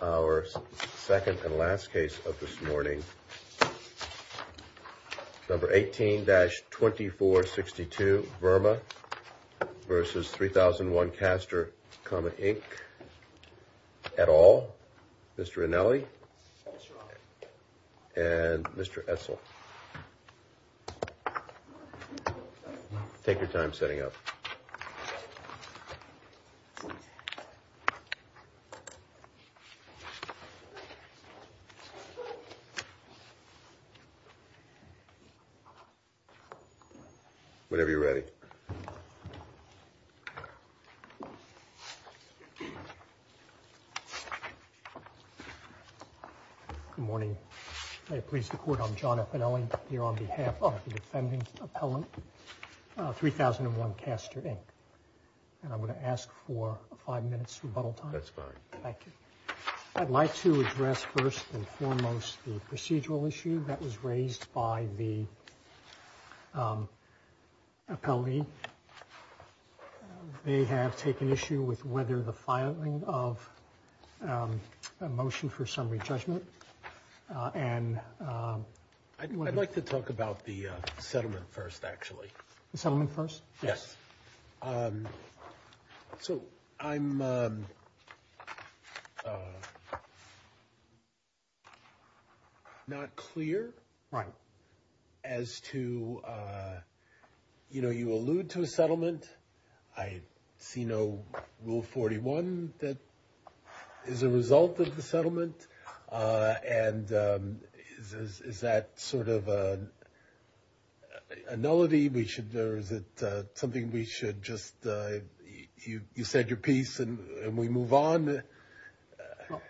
Our second and last case of this morning, number 18-2462, Verma, versus 3001Castor, Inc, et al., Mr. Rinelli and Mr. Essel. Take your time setting up. Good morning. May it please the Court, I'm John F. Rinelli here on behalf of the defending appellant, 3001Castor, Inc. And I'm going to ask for five minutes rebuttal time. That's fine. Thank you. I'd like to address first and foremost the procedural issue that was raised by the appellee. They have taken issue with whether the filing of a motion for summary judgment and... I'd like to talk about the settlement first, actually. The settlement first? Yes. So I'm not clear as to, you know, you allude to a settlement. I see no Rule 41 that is a result of the settlement. And is that sort of a nullity? Or is it something we should just, you said your piece and we move on?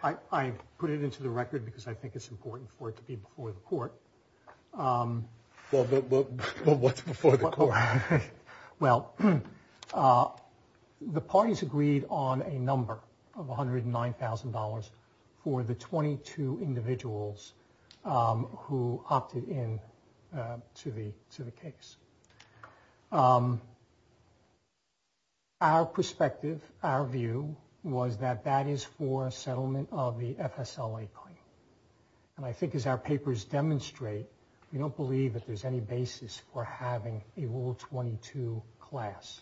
I put it into the record because I think it's important for it to be before the Court. Well, the parties agreed on a number of $109,000 for the 22 individuals who opted in to the case. Our perspective, our view was that that is for a settlement of the FSLA claim. And I think as our papers demonstrate, we don't believe that there's any basis for having a Rule 22 class.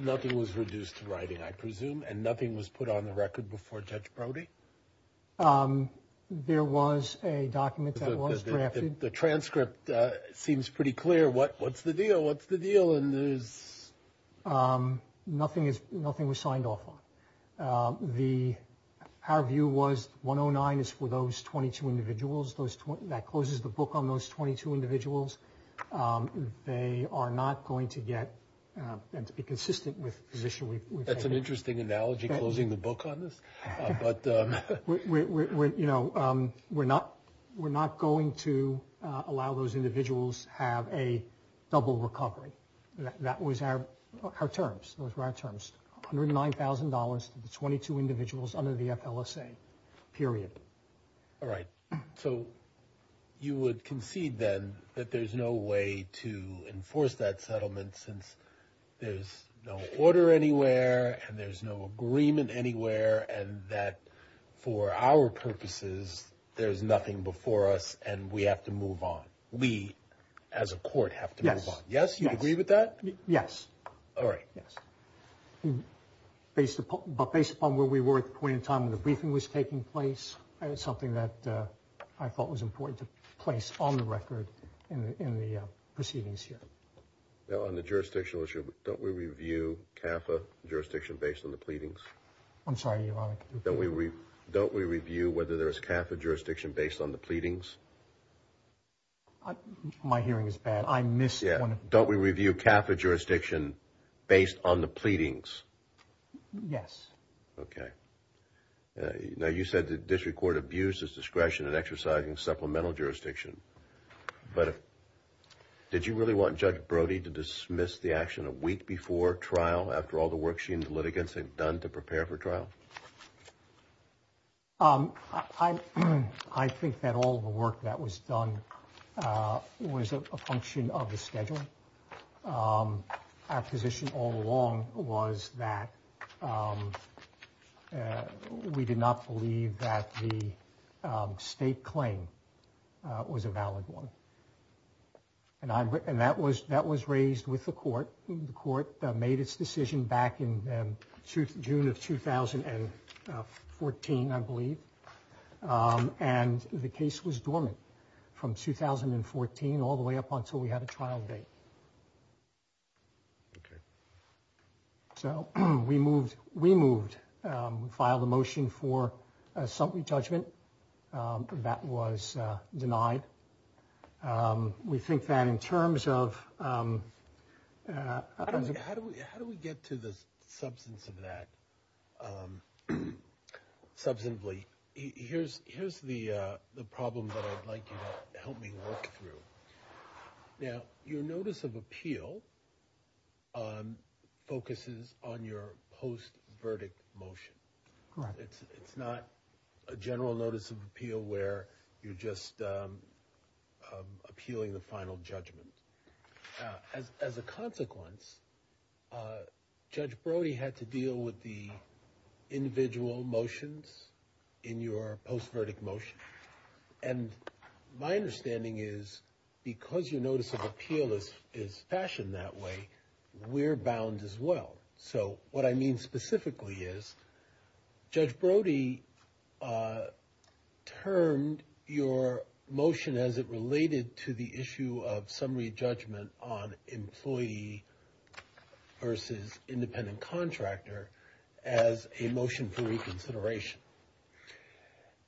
Nothing was reduced to writing, I presume? And nothing was put on the record before Judge Brody? There was a document that was drafted. The transcript seems pretty clear. What's the deal? What's the deal? And there's... Nothing was signed off on. Our view was 109 is for those 22 individuals. That closes the book on those 22 individuals. They are not going to get... And to be consistent with the position we've taken... That's an interesting analogy, closing the book on this. But... We're not going to allow those individuals have a double recovery. That was our terms. Those were our terms. $109,000 to the 22 individuals under the FLSA. Period. All right. So... You would concede then that there's no way to enforce that settlement since there's no order anywhere... And there's no agreement anywhere... And that for our purposes, there's nothing before us and we have to move on. We, as a court, have to move on. Yes. You agree with that? Yes. All right. Yes. Based upon where we were at the point in time when the briefing was taking place, it's something that I thought was important to place on the record in the proceedings here. On the jurisdictional issue, don't we review CAFA jurisdiction based on the pleadings? I'm sorry, Your Honor. Don't we review whether there's CAFA jurisdiction based on the pleadings? My hearing is bad. I missed one... Don't we review CAFA jurisdiction based on the pleadings? Yes. Okay. Now, you said the district court abused its discretion in exercising supplemental jurisdiction, but did you really want Judge Brody to dismiss the action a week before trial after all the work she and the litigants had done to prepare for trial? I think that all the work that was done was a function of the schedule. Our position all along was that we did not believe that the state claim was a valid one. And that was raised with the court. The court made its decision back in June of 2014, I believe, and the case was dormant from 2014 all the way up until we had a trial date. Okay. So we moved, filed a motion for assembly judgment. That was denied. We think that in terms of... How do we get to the substance of that substantively? Here's the problem that I'd like you to help me work through. Now, your notice of appeal focuses on your post-verdict motion. Correct. It's not a general notice of appeal where you're just appealing the final judgment. As a consequence, Judge Brody had to deal with the individual motions in your post-verdict motion. And my understanding is because your notice of appeal is fashioned that way, we're bound as well. So what I mean specifically is Judge Brody termed your motion, as it related to the issue of summary judgment on employee versus independent contractor, as a motion for reconsideration.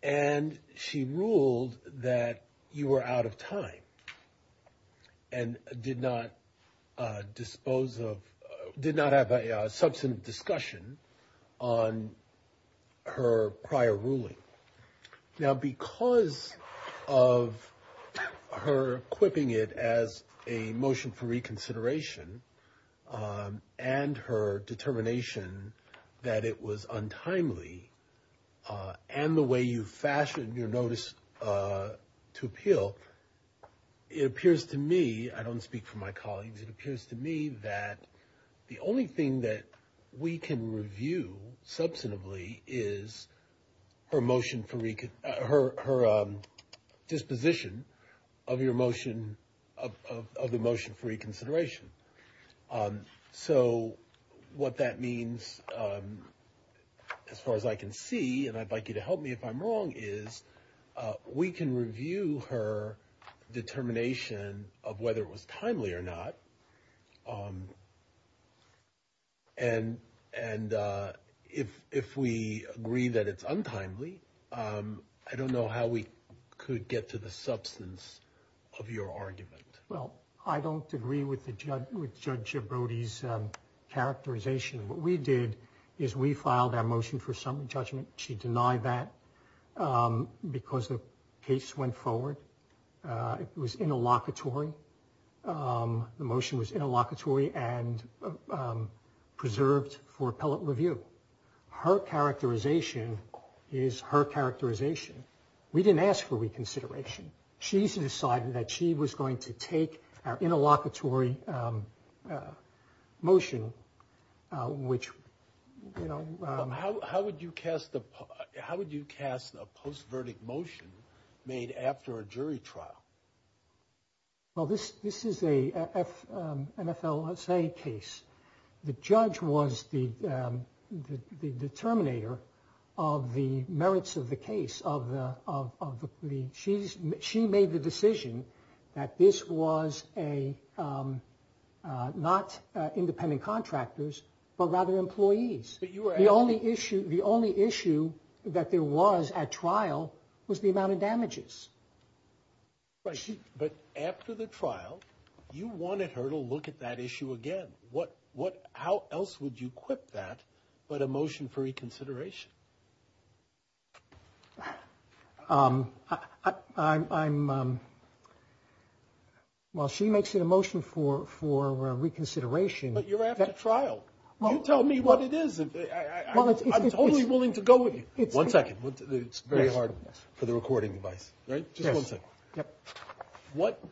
And she ruled that you were out of time and did not have a substantive discussion on her prior ruling. Now, because of her equipping it as a motion for reconsideration and her determination that it was untimely, and the way you fashioned your notice to appeal, it appears to me, I don't speak for my colleagues, it appears to me that the only thing that we can review substantively is her disposition of the motion for reconsideration. So what that means, as far as I can see, and I'd like you to help me if I'm wrong, is we can review her determination of whether it was timely or not. And if we agree that it's untimely, I don't know how we could get to the substance of your argument. Well, I don't agree with Judge Brody's characterization. What we did is we filed our motion for summary judgment. She denied that because the case went forward. It was interlocutory. The motion was interlocutory and preserved for appellate review. Her characterization is her characterization. We didn't ask for reconsideration. She decided that she was going to take our interlocutory motion, which, you know. How would you cast a post-verdict motion made after a jury trial? Well, this is an FLSA case. The judge was the determinator of the merits of the case. She made the decision that this was not independent contractors, but rather employees. The only issue that there was at trial was the amount of damages. Right. But after the trial, you wanted her to look at that issue again. How else would you equip that but a motion for reconsideration? Well, she makes it a motion for reconsideration. But you're after trial. You tell me what it is. I'm totally willing to go with you. One second. It's very hard for the recording device, right? Just one second. Yep.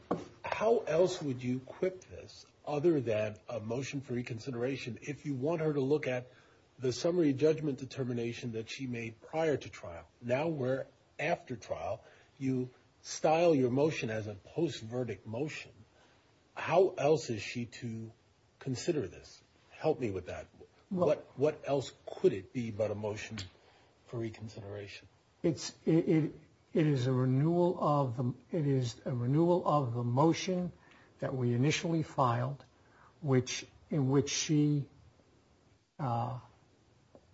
How else would you equip this other than a motion for reconsideration if you want her to look at the summary judgment determination that she made prior to trial? Now we're after trial. You style your motion as a post-verdict motion. How else is she to consider this? Help me with that. What else could it be but a motion for reconsideration? It is a renewal of the motion that we initially filed in which she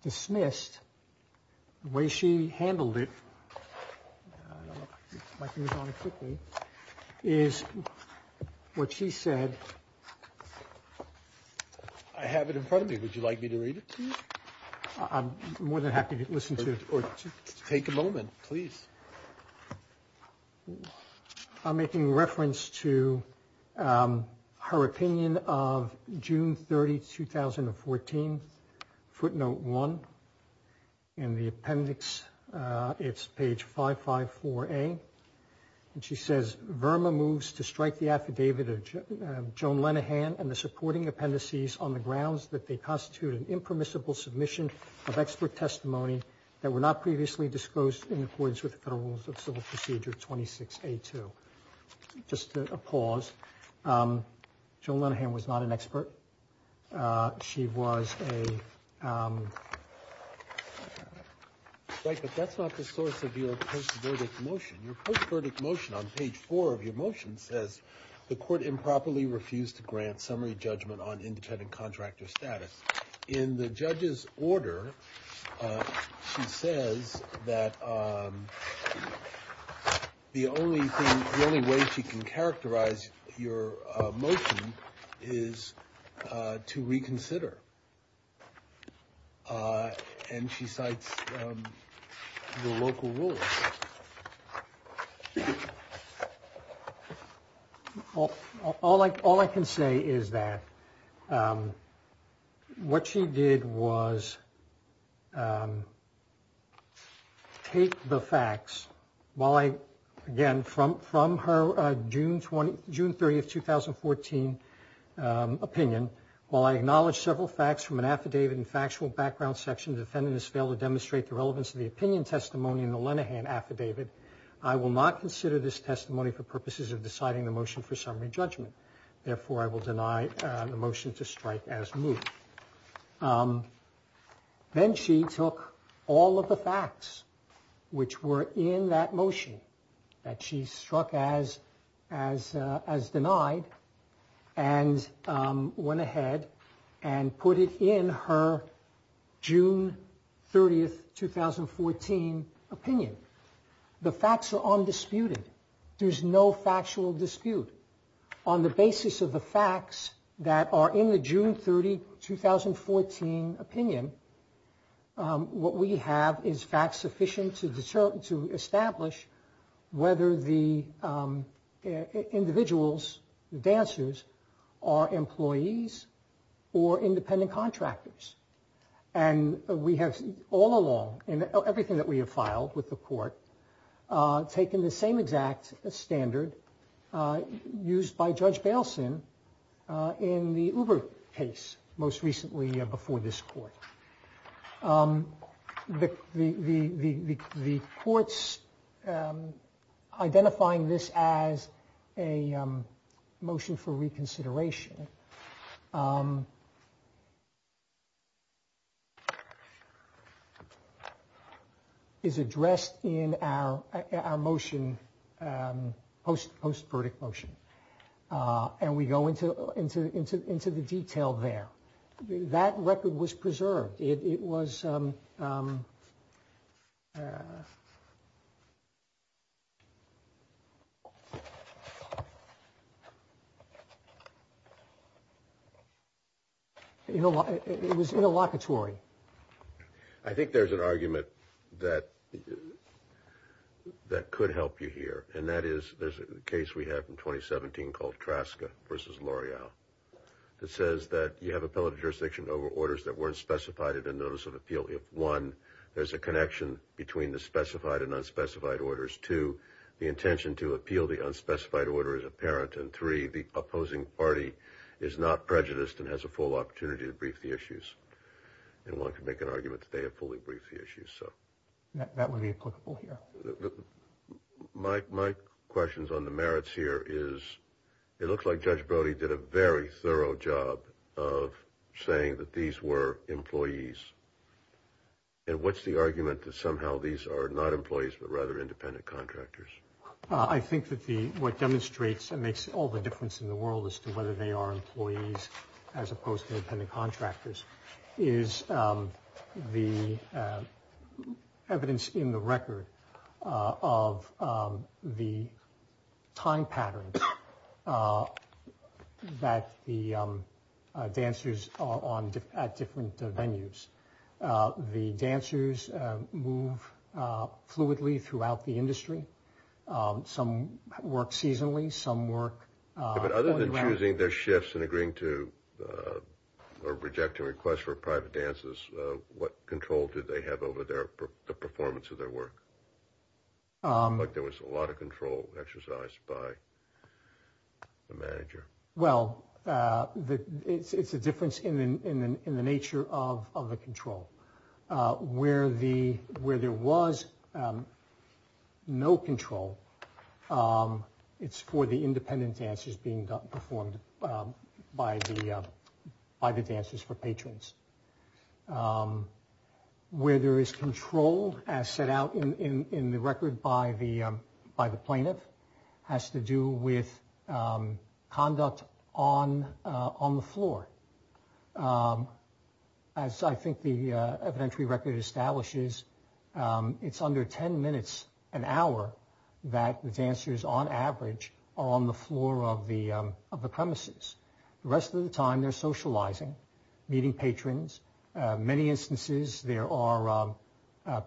dismissed. The way she handled it is what she said. I have it in front of me. Would you like me to read it to you? I'm more than happy to listen to it. Take a moment, please. I'm making reference to her opinion of June 30, 2014, footnote one. In the appendix, it's page 554A. And she says, Verma moves to strike the affidavit of Joan Lenihan and the supporting appendices on the grounds that they constitute an impermissible submission of expert testimony that were not previously disclosed in accordance with the Federal Rules of Civil Procedure 26A2. Just a pause. Joan Lenihan was not an expert. She was a – Right, but that's not the source of your post-verdict motion. Your post-verdict motion on page four of your motion says, the court improperly refused to grant summary judgment on independent contractor status. In the judge's order, she says that the only thing – the only way she can characterize your motion is to reconsider. And she cites the local rules. All I can say is that what she did was take the facts, while I – again, from her June 30, 2014, opinion, while I acknowledge several facts from an affidavit and factual background section, the defendant has failed to demonstrate the relevance of the opinion testimony in the Lenihan affidavit, I will not consider this testimony for purposes of deciding the motion for summary judgment. Therefore, I will deny the motion to strike as moved. Then she took all of the facts which were in that motion that she struck as denied and went ahead and put it in her June 30, 2014, opinion. The facts are undisputed. There's no factual dispute. On the basis of the facts that are in the June 30, 2014, opinion, what we have is facts sufficient to establish whether the individuals, the dancers, are employees or independent contractors. And we have all along, in everything that we have filed with the court, taken the same exact standard used by Judge Bailson in the Uber case, most recently before this court. The courts identifying this as a motion for reconsideration is addressed in our motion, post-verdict motion. And we go into the detail there. That record was preserved. It was... It was interlocutory. I think there's an argument that could help you here. And that is, there's a case we have in 2017 called Traska v. L'Oreal that says that you have appellate jurisdiction over orders that weren't specified in the notice of appeal if, one, there's a connection between the specified and unspecified orders, two, the intention to appeal the unspecified order is apparent, and three, the opposing party is not prejudiced and has a full opportunity to brief the issues. And one could make an argument that they have fully briefed the issues, so... That would be applicable here. My question on the merits here is, it looks like Judge Brody did a very thorough job of saying that these were employees. And what's the argument that somehow these are not employees but rather independent contractors? I think that what demonstrates and makes all the difference in the world as to whether they are employees as opposed to independent contractors is the evidence in the record of the time patterns that the dancers are at different venues. The dancers move fluidly throughout the industry. Some work seasonally, some work... But other than choosing their shifts and agreeing to or rejecting requests for private dances, what control did they have over the performance of their work? Like there was a lot of control exercised by the manager. Well, it's a difference in the nature of the control. Where there was no control, it's for the independent dancers being performed by the dancers for patrons. Where there is control, as set out in the record by the plaintiff, has to do with conduct on the floor. As I think the evidentiary record establishes, it's under 10 minutes an hour that the dancers on average are on the floor of the premises. The rest of the time they're socializing, meeting patrons. Many instances there are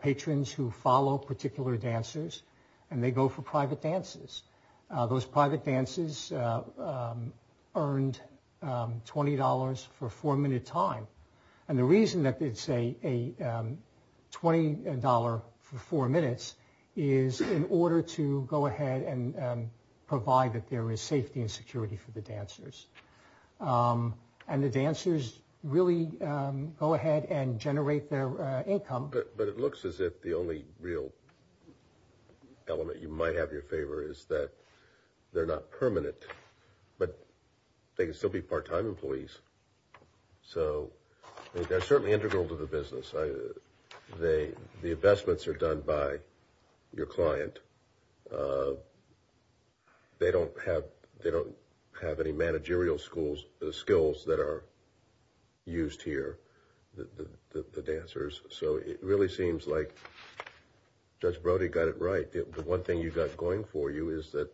patrons who follow particular dancers and they go for private dances. Those private dances earned $20 for a four-minute time. And the reason that it's a $20 for four minutes is in order to go ahead and provide that there is safety and security for the dancers. And the dancers really go ahead and generate their income. But it looks as if the only real element you might have in your favor is that they're not permanent, but they can still be part-time employees. So they're certainly integral to the business. The investments are done by your client. They don't have any managerial skills that are used here, the dancers. So it really seems like Judge Brody got it right. The one thing you got going for you is that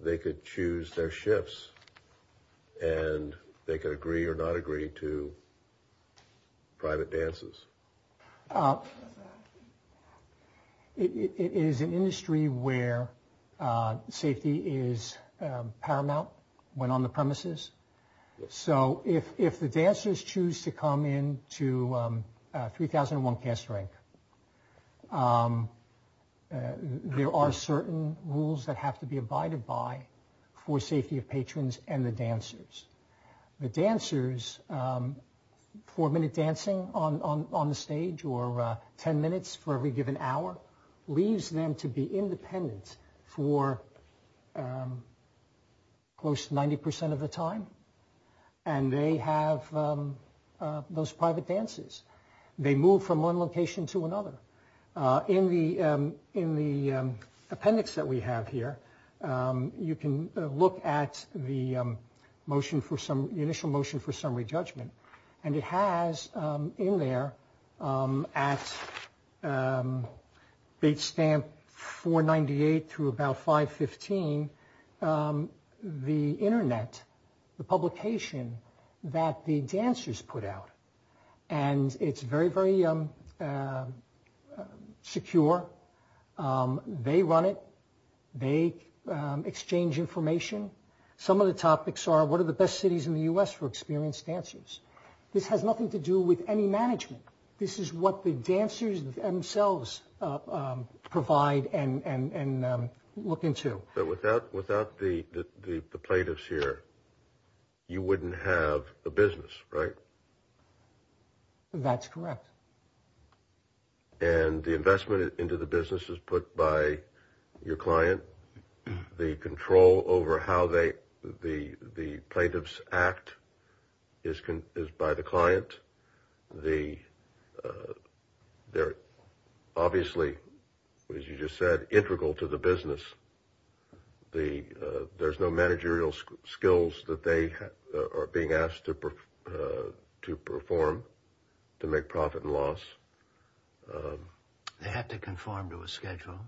they could choose their shifts and they could agree or not agree to private dances. It is an industry where safety is paramount when on the premises. So if the dancers choose to come in to 3001 Cast Rank, there are certain rules that have to be abided by for safety of patrons and the dancers. The dancers, four-minute dancing on the stage or ten minutes for every given hour, leaves them to be independent for close to 90% of the time. And they have those private dances. They move from one location to another. In the appendix that we have here, you can look at the initial motion for summary judgment. And it has in there, at page stamp 498 through about 515, the Internet, the publication that the dancers put out. And it's very, very secure. They run it. They exchange information. Some of the topics are what are the best cities in the U.S. for experienced dancers. This has nothing to do with any management. This is what the dancers themselves provide and look into. Well, but without the plaintiffs here, you wouldn't have a business, right? That's correct. And the investment into the business is put by your client. The control over how the plaintiffs act is by the client. They're obviously, as you just said, integral to the business. There's no managerial skills that they are being asked to perform to make profit and loss. They have to conform to a schedule.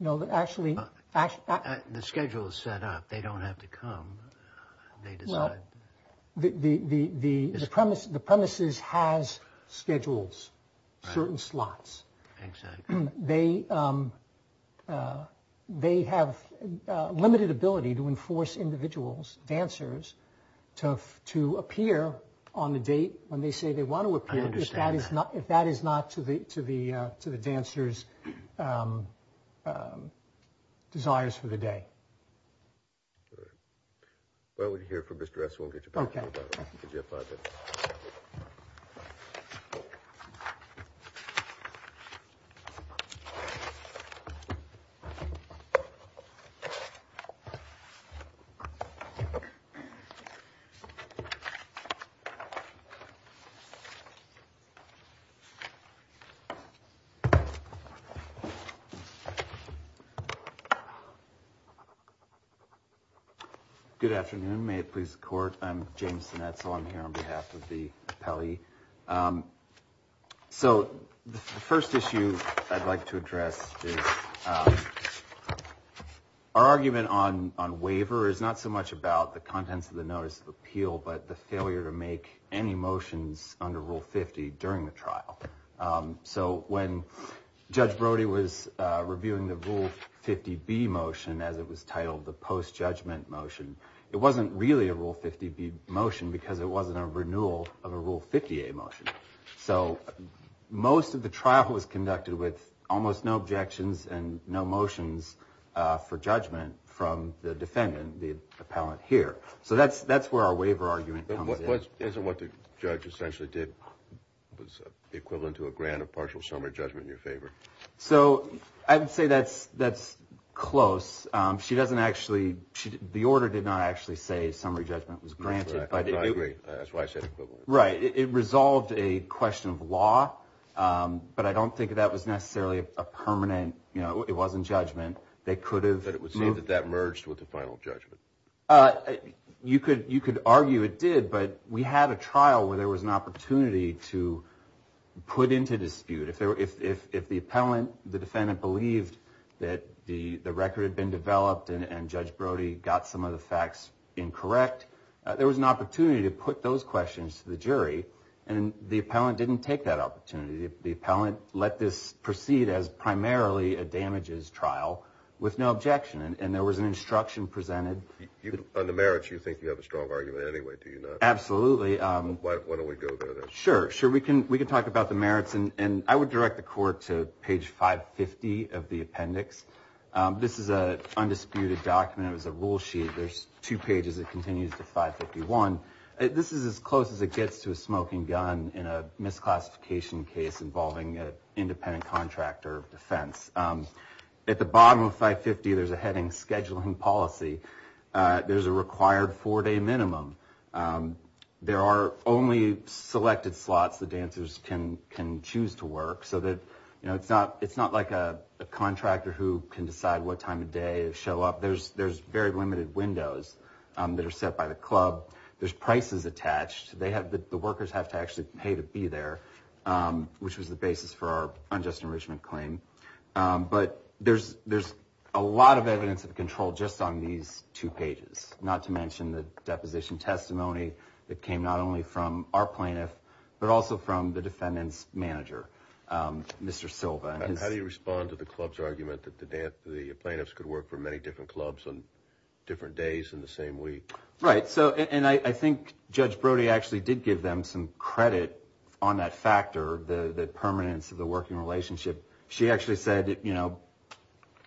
No, actually. The schedule is set up. They don't have to come. Well, the premises has schedules, certain slots. Exactly. They have limited ability to enforce individuals, dancers, to appear on the date when they say they want to appear. I understand that. If that is not to the dancers' desires for the day. All right. Well, we're here for Mr. Esselstyn. We'll get you back to me. Okay. Good afternoon. May it please the court. I'm James Sinetzel. I'm here on behalf of the appellee. So the first issue I'd like to address is our argument on waiver is not so much about the contents of the notice of appeal, but the failure to make any motions under Rule 50 during the trial. So when Judge Brody was reviewing the Rule 50B motion as it was titled, the post-judgment motion, it wasn't really a Rule 50B motion because it wasn't a renewal of a Rule 50A motion. So most of the trial was conducted with almost no objections and no motions for judgment from the defendant, the appellant here. So that's where our waiver argument comes in. So isn't what the judge essentially did was equivalent to a grant of partial summary judgment in your favor? So I would say that's close. She doesn't actually – the order did not actually say summary judgment was granted. I agree. That's why I said equivalent. Right. It resolved a question of law, but I don't think that was necessarily a permanent – you know, it wasn't judgment. They could have moved – But it would seem that that merged with the final judgment. You could argue it did, but we had a trial where there was an opportunity to put into dispute. If the appellant, the defendant, believed that the record had been developed and Judge Brody got some of the facts incorrect, there was an opportunity to put those questions to the jury, and the appellant didn't take that opportunity. The appellant let this proceed as primarily a damages trial with no objection, and there was an instruction presented. On the merits, you think you have a strong argument anyway, do you not? Absolutely. Why don't we go there then? Sure, sure. We can talk about the merits, and I would direct the court to page 550 of the appendix. This is an undisputed document. It was a rule sheet. There's two pages. It continues to 551. This is as close as it gets to a smoking gun in a misclassification case involving an independent contractor of defense. At the bottom of 550, there's a heading scheduling policy. There's a required four-day minimum. There are only selected slots the dancers can choose to work, so that it's not like a contractor who can decide what time of day to show up. There's very limited windows that are set by the club. There's prices attached. The workers have to actually pay to be there, which was the basis for our unjust enrichment claim. But there's a lot of evidence of control just on these two pages, not to mention the deposition testimony that came not only from our plaintiff, but also from the defendant's manager, Mr. Silva. How do you respond to the club's argument that the plaintiffs could work for many different clubs on different days in the same week? I think Judge Brody actually did give them some credit on that factor, the permanence of the working relationship. She actually said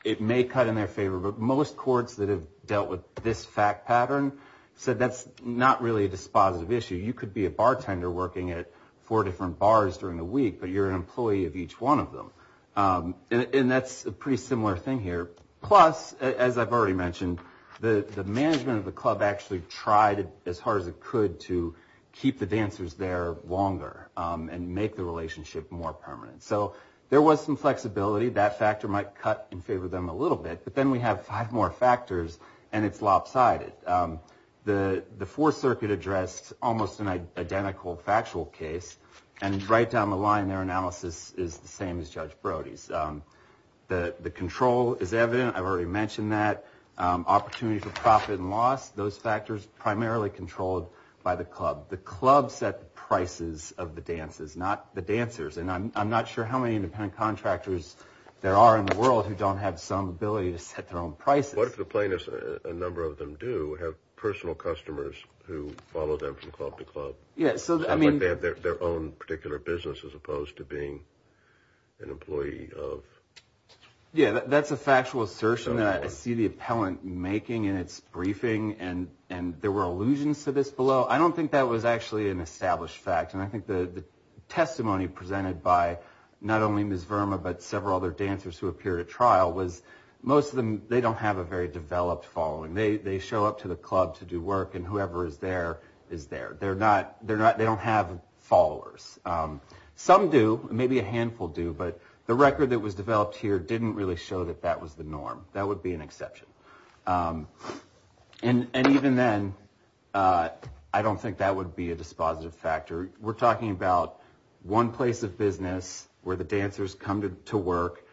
it may cut in their favor, but most courts that have dealt with this fact pattern said that's not really a dispositive issue. You could be a bartender working at four different bars during the week, but you're an employee of each one of them. That's a pretty similar thing here. Plus, as I've already mentioned, the management of the club actually tried as hard as it could to keep the dancers there longer and make the relationship more permanent. So there was some flexibility. That factor might cut in favor of them a little bit, but then we have five more factors, and it's lopsided. The Fourth Circuit addressed almost an identical factual case, and right down the line, their analysis is the same as Judge Brody's. The control is evident. I've already mentioned that. Opportunity for profit and loss, those factors primarily controlled by the club. The club set the prices of the dances, not the dancers, and I'm not sure how many independent contractors there are in the world who don't have some ability to set their own prices. What if the plaintiffs, a number of them do, have personal customers who follow them from club to club? They have their own particular business as opposed to being an employee of... Yeah, that's a factual assertion that I see the appellant making in its briefing, and there were allusions to this below. I don't think that was actually an established fact, and I think the testimony presented by not only Ms. Verma but several other dancers who appeared at trial was most of them, they don't have a very developed following. They show up to the club to do work, and whoever is there is there. They don't have followers. Some do, maybe a handful do, but the record that was developed here didn't really show that that was the norm. That would be an exception. And even then, I don't think that would be a dispositive factor. We're talking about one place of business where the dancers come to work.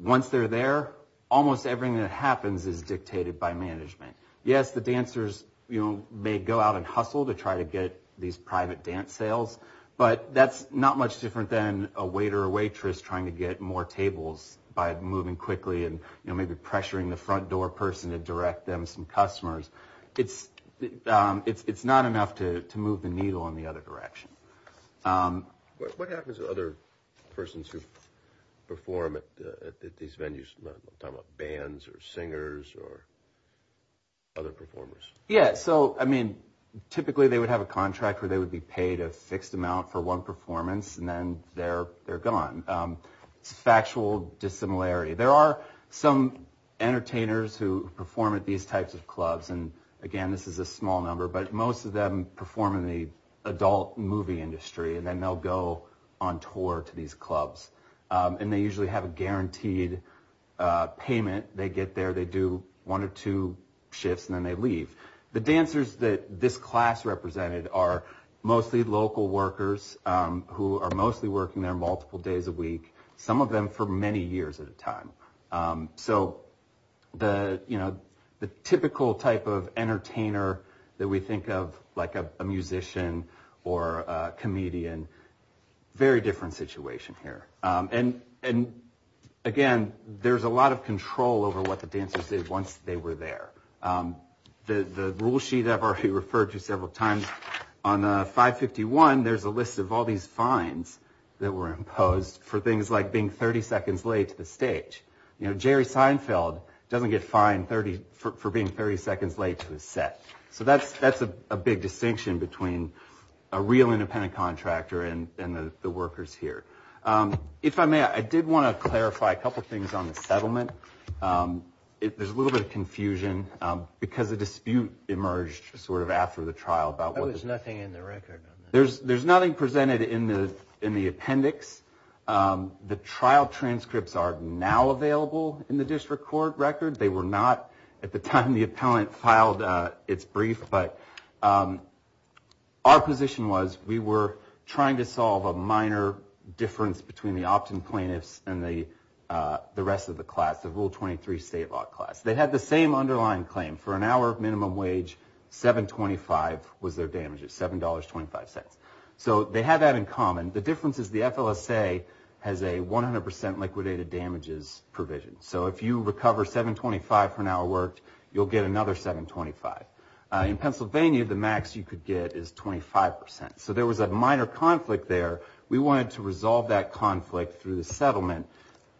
Once they're there, almost everything that happens is dictated by management. Yes, the dancers may go out and hustle to try to get these private dance sales, but that's not much different than a waiter or waitress trying to get more tables by moving quickly and maybe pressuring the front door person to direct them some customers. It's not enough to move the needle in the other direction. What happens to other persons who perform at these venues? I'm talking about bands or singers or other performers. Yes, so typically they would have a contract where they would be paid a fixed amount for one performance, and then they're gone. It's factual dissimilarity. There are some entertainers who perform at these types of clubs, and again, this is a small number, but most of them perform in the adult movie industry, and then they'll go on tour to these clubs. And they usually have a guaranteed payment. They get there, they do one or two shifts, and then they leave. The dancers that this class represented are mostly local workers who are mostly working there multiple days a week, some of them for many years at a time. So the typical type of entertainer that we think of like a musician or a comedian, very different situation here. And again, there's a lot of control over what the dancers did once they were there. The rule sheet I've already referred to several times. On 551, there's a list of all these fines that were imposed for things like being 30 seconds late to the stage. Jerry Seinfeld doesn't get fined for being 30 seconds late to his set. So that's a big distinction between a real independent contractor and the workers here. If I may, I did want to clarify a couple things on the settlement. There's a little bit of confusion because a dispute emerged sort of after the trial. There's nothing in the record. There's nothing presented in the appendix. The trial transcripts are now available in the district court record. They were not at the time the appellant filed its brief. But our position was we were trying to solve a minor difference between the opt-in plaintiffs and the rest of the class, the Rule 23 state law class. They had the same underlying claim. For an hour minimum wage, $7.25 was their damages, $7.25. So they had that in common. The difference is the FLSA has a 100% liquidated damages provision. So if you recover $7.25 for an hour worked, you'll get another $7.25. In Pennsylvania, the max you could get is 25%. So there was a minor conflict there. We wanted to resolve that conflict through the settlement,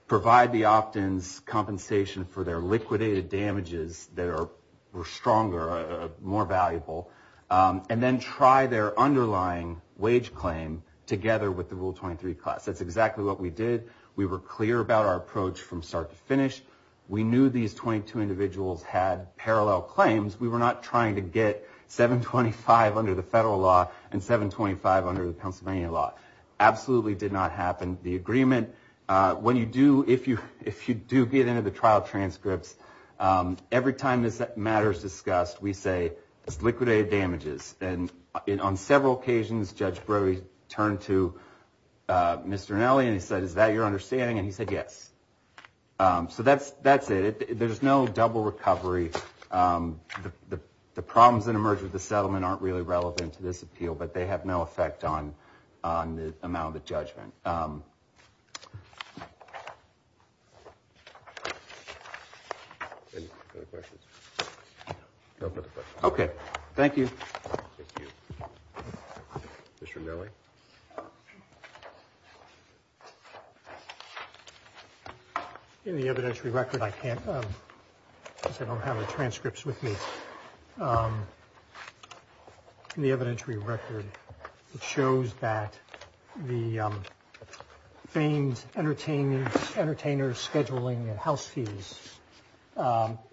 provide the opt-ins compensation for their liquidated damages that were stronger, more valuable, and then try their underlying wage claim together with the Rule 23 class. That's exactly what we did. We were clear about our approach from start to finish. We knew these 22 individuals had parallel claims. We were not trying to get $7.25 under the federal law and $7.25 under the Pennsylvania law. Absolutely did not happen. The agreement, when you do, if you do get into the trial transcripts, every time this matter is discussed, we say it's liquidated damages. On several occasions, Judge Brody turned to Mr. Anelli and he said, is that your understanding? And he said, yes. So that's it. There's no double recovery. The problems that emerge with the settlement aren't really relevant to this appeal, but they have no effect on the amount of the judgment. Any other questions? No further questions. Okay. Thank you. Thank you. Mr. Anelli? In the evidentiary record, I can't, because I don't have the transcripts with me. In the evidentiary record, it shows that the famed entertainer scheduling house keys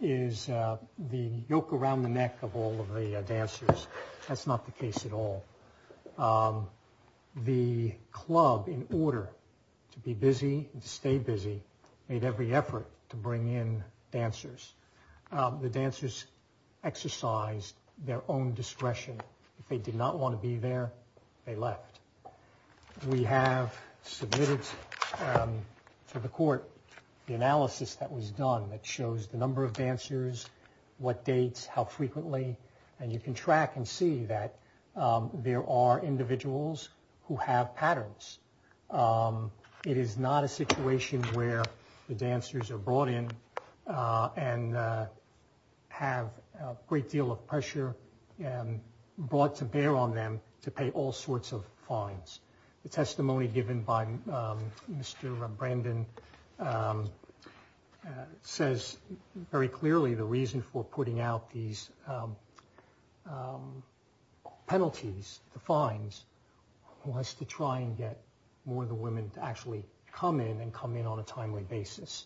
is the yoke around the neck of all of the dancers. That's not the case at all. The club, in order to be busy and stay busy, made every effort to bring in dancers. The dancers exercised their own discretion. If they did not want to be there, they left. We have submitted to the court the analysis that was done that shows the number of dancers, what dates, how frequently, and you can track and see that there are individuals who have patterns. It is not a situation where the dancers are brought in and have a great deal of pressure and brought to bear on them to pay all sorts of fines. The testimony given by Mr. Brandon says very clearly the reason for putting out these penalties, the fines, was to try and get more of the women to actually come in and come in on a timely basis.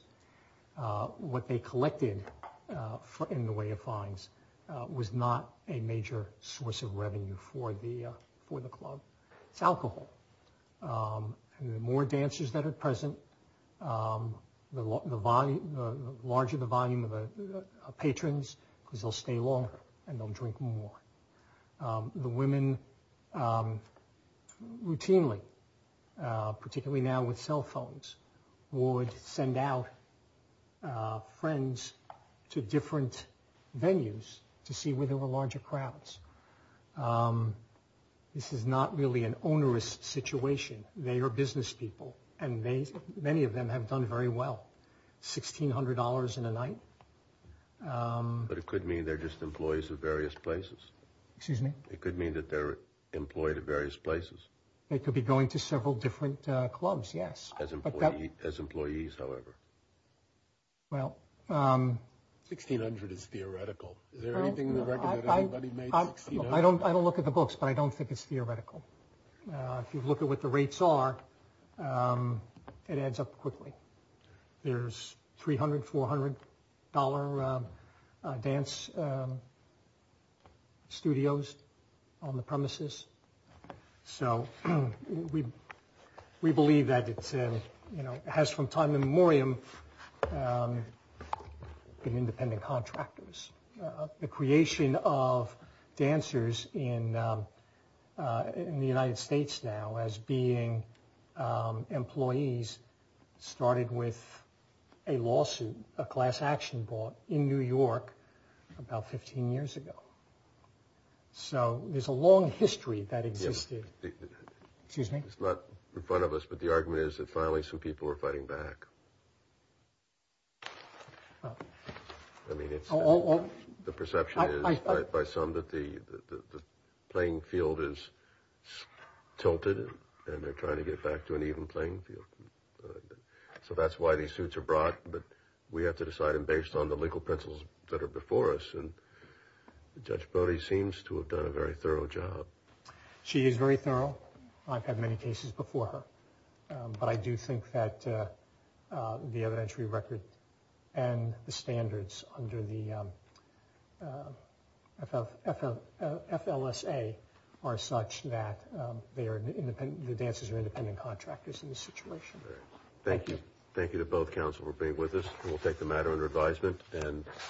What they collected in the way of fines was not a major source of revenue for the club. It's alcohol. The more dancers that are present, the larger the volume of patrons, because they'll stay longer and they'll drink more. The women routinely, particularly now with cell phones, would send out friends to different venues to see where there were larger crowds. This is not really an onerous situation. They are business people and many of them have done very well. $1,600 in a night. But it could mean they're just employees of various places. Excuse me? It could mean that they're employed at various places. They could be going to several different clubs, yes. As employees, however. Well... $1,600 is theoretical. Is there anything to recommend anybody make $1,600? I don't look at the books, but I don't think it's theoretical. If you look at what the rates are, it adds up quickly. There's $300, $400 dance studios on the premises. We believe that it has from time immemorial been independent contractors. The creation of dancers in the United States now as being employees started with a lawsuit, a class action lawsuit, in New York about 15 years ago. So there's a long history that existed. Excuse me? It's not in front of us, but the argument is that finally some people are fighting back. I mean, it's... The perception is by some that the playing field is tilted and they're trying to get back to an even playing field. So that's why these suits are brought, but we have to decide them based on the legal pencils that are before us. And Judge Brody seems to have done a very thorough job. She is very thorough. I've had many cases before her. But I do think that the evidentiary record and the standards under the FLSA are such that the dancers are independent contractors in this situation. Thank you. Thank you to both counsel for being with us. We'll take the matter under advisement.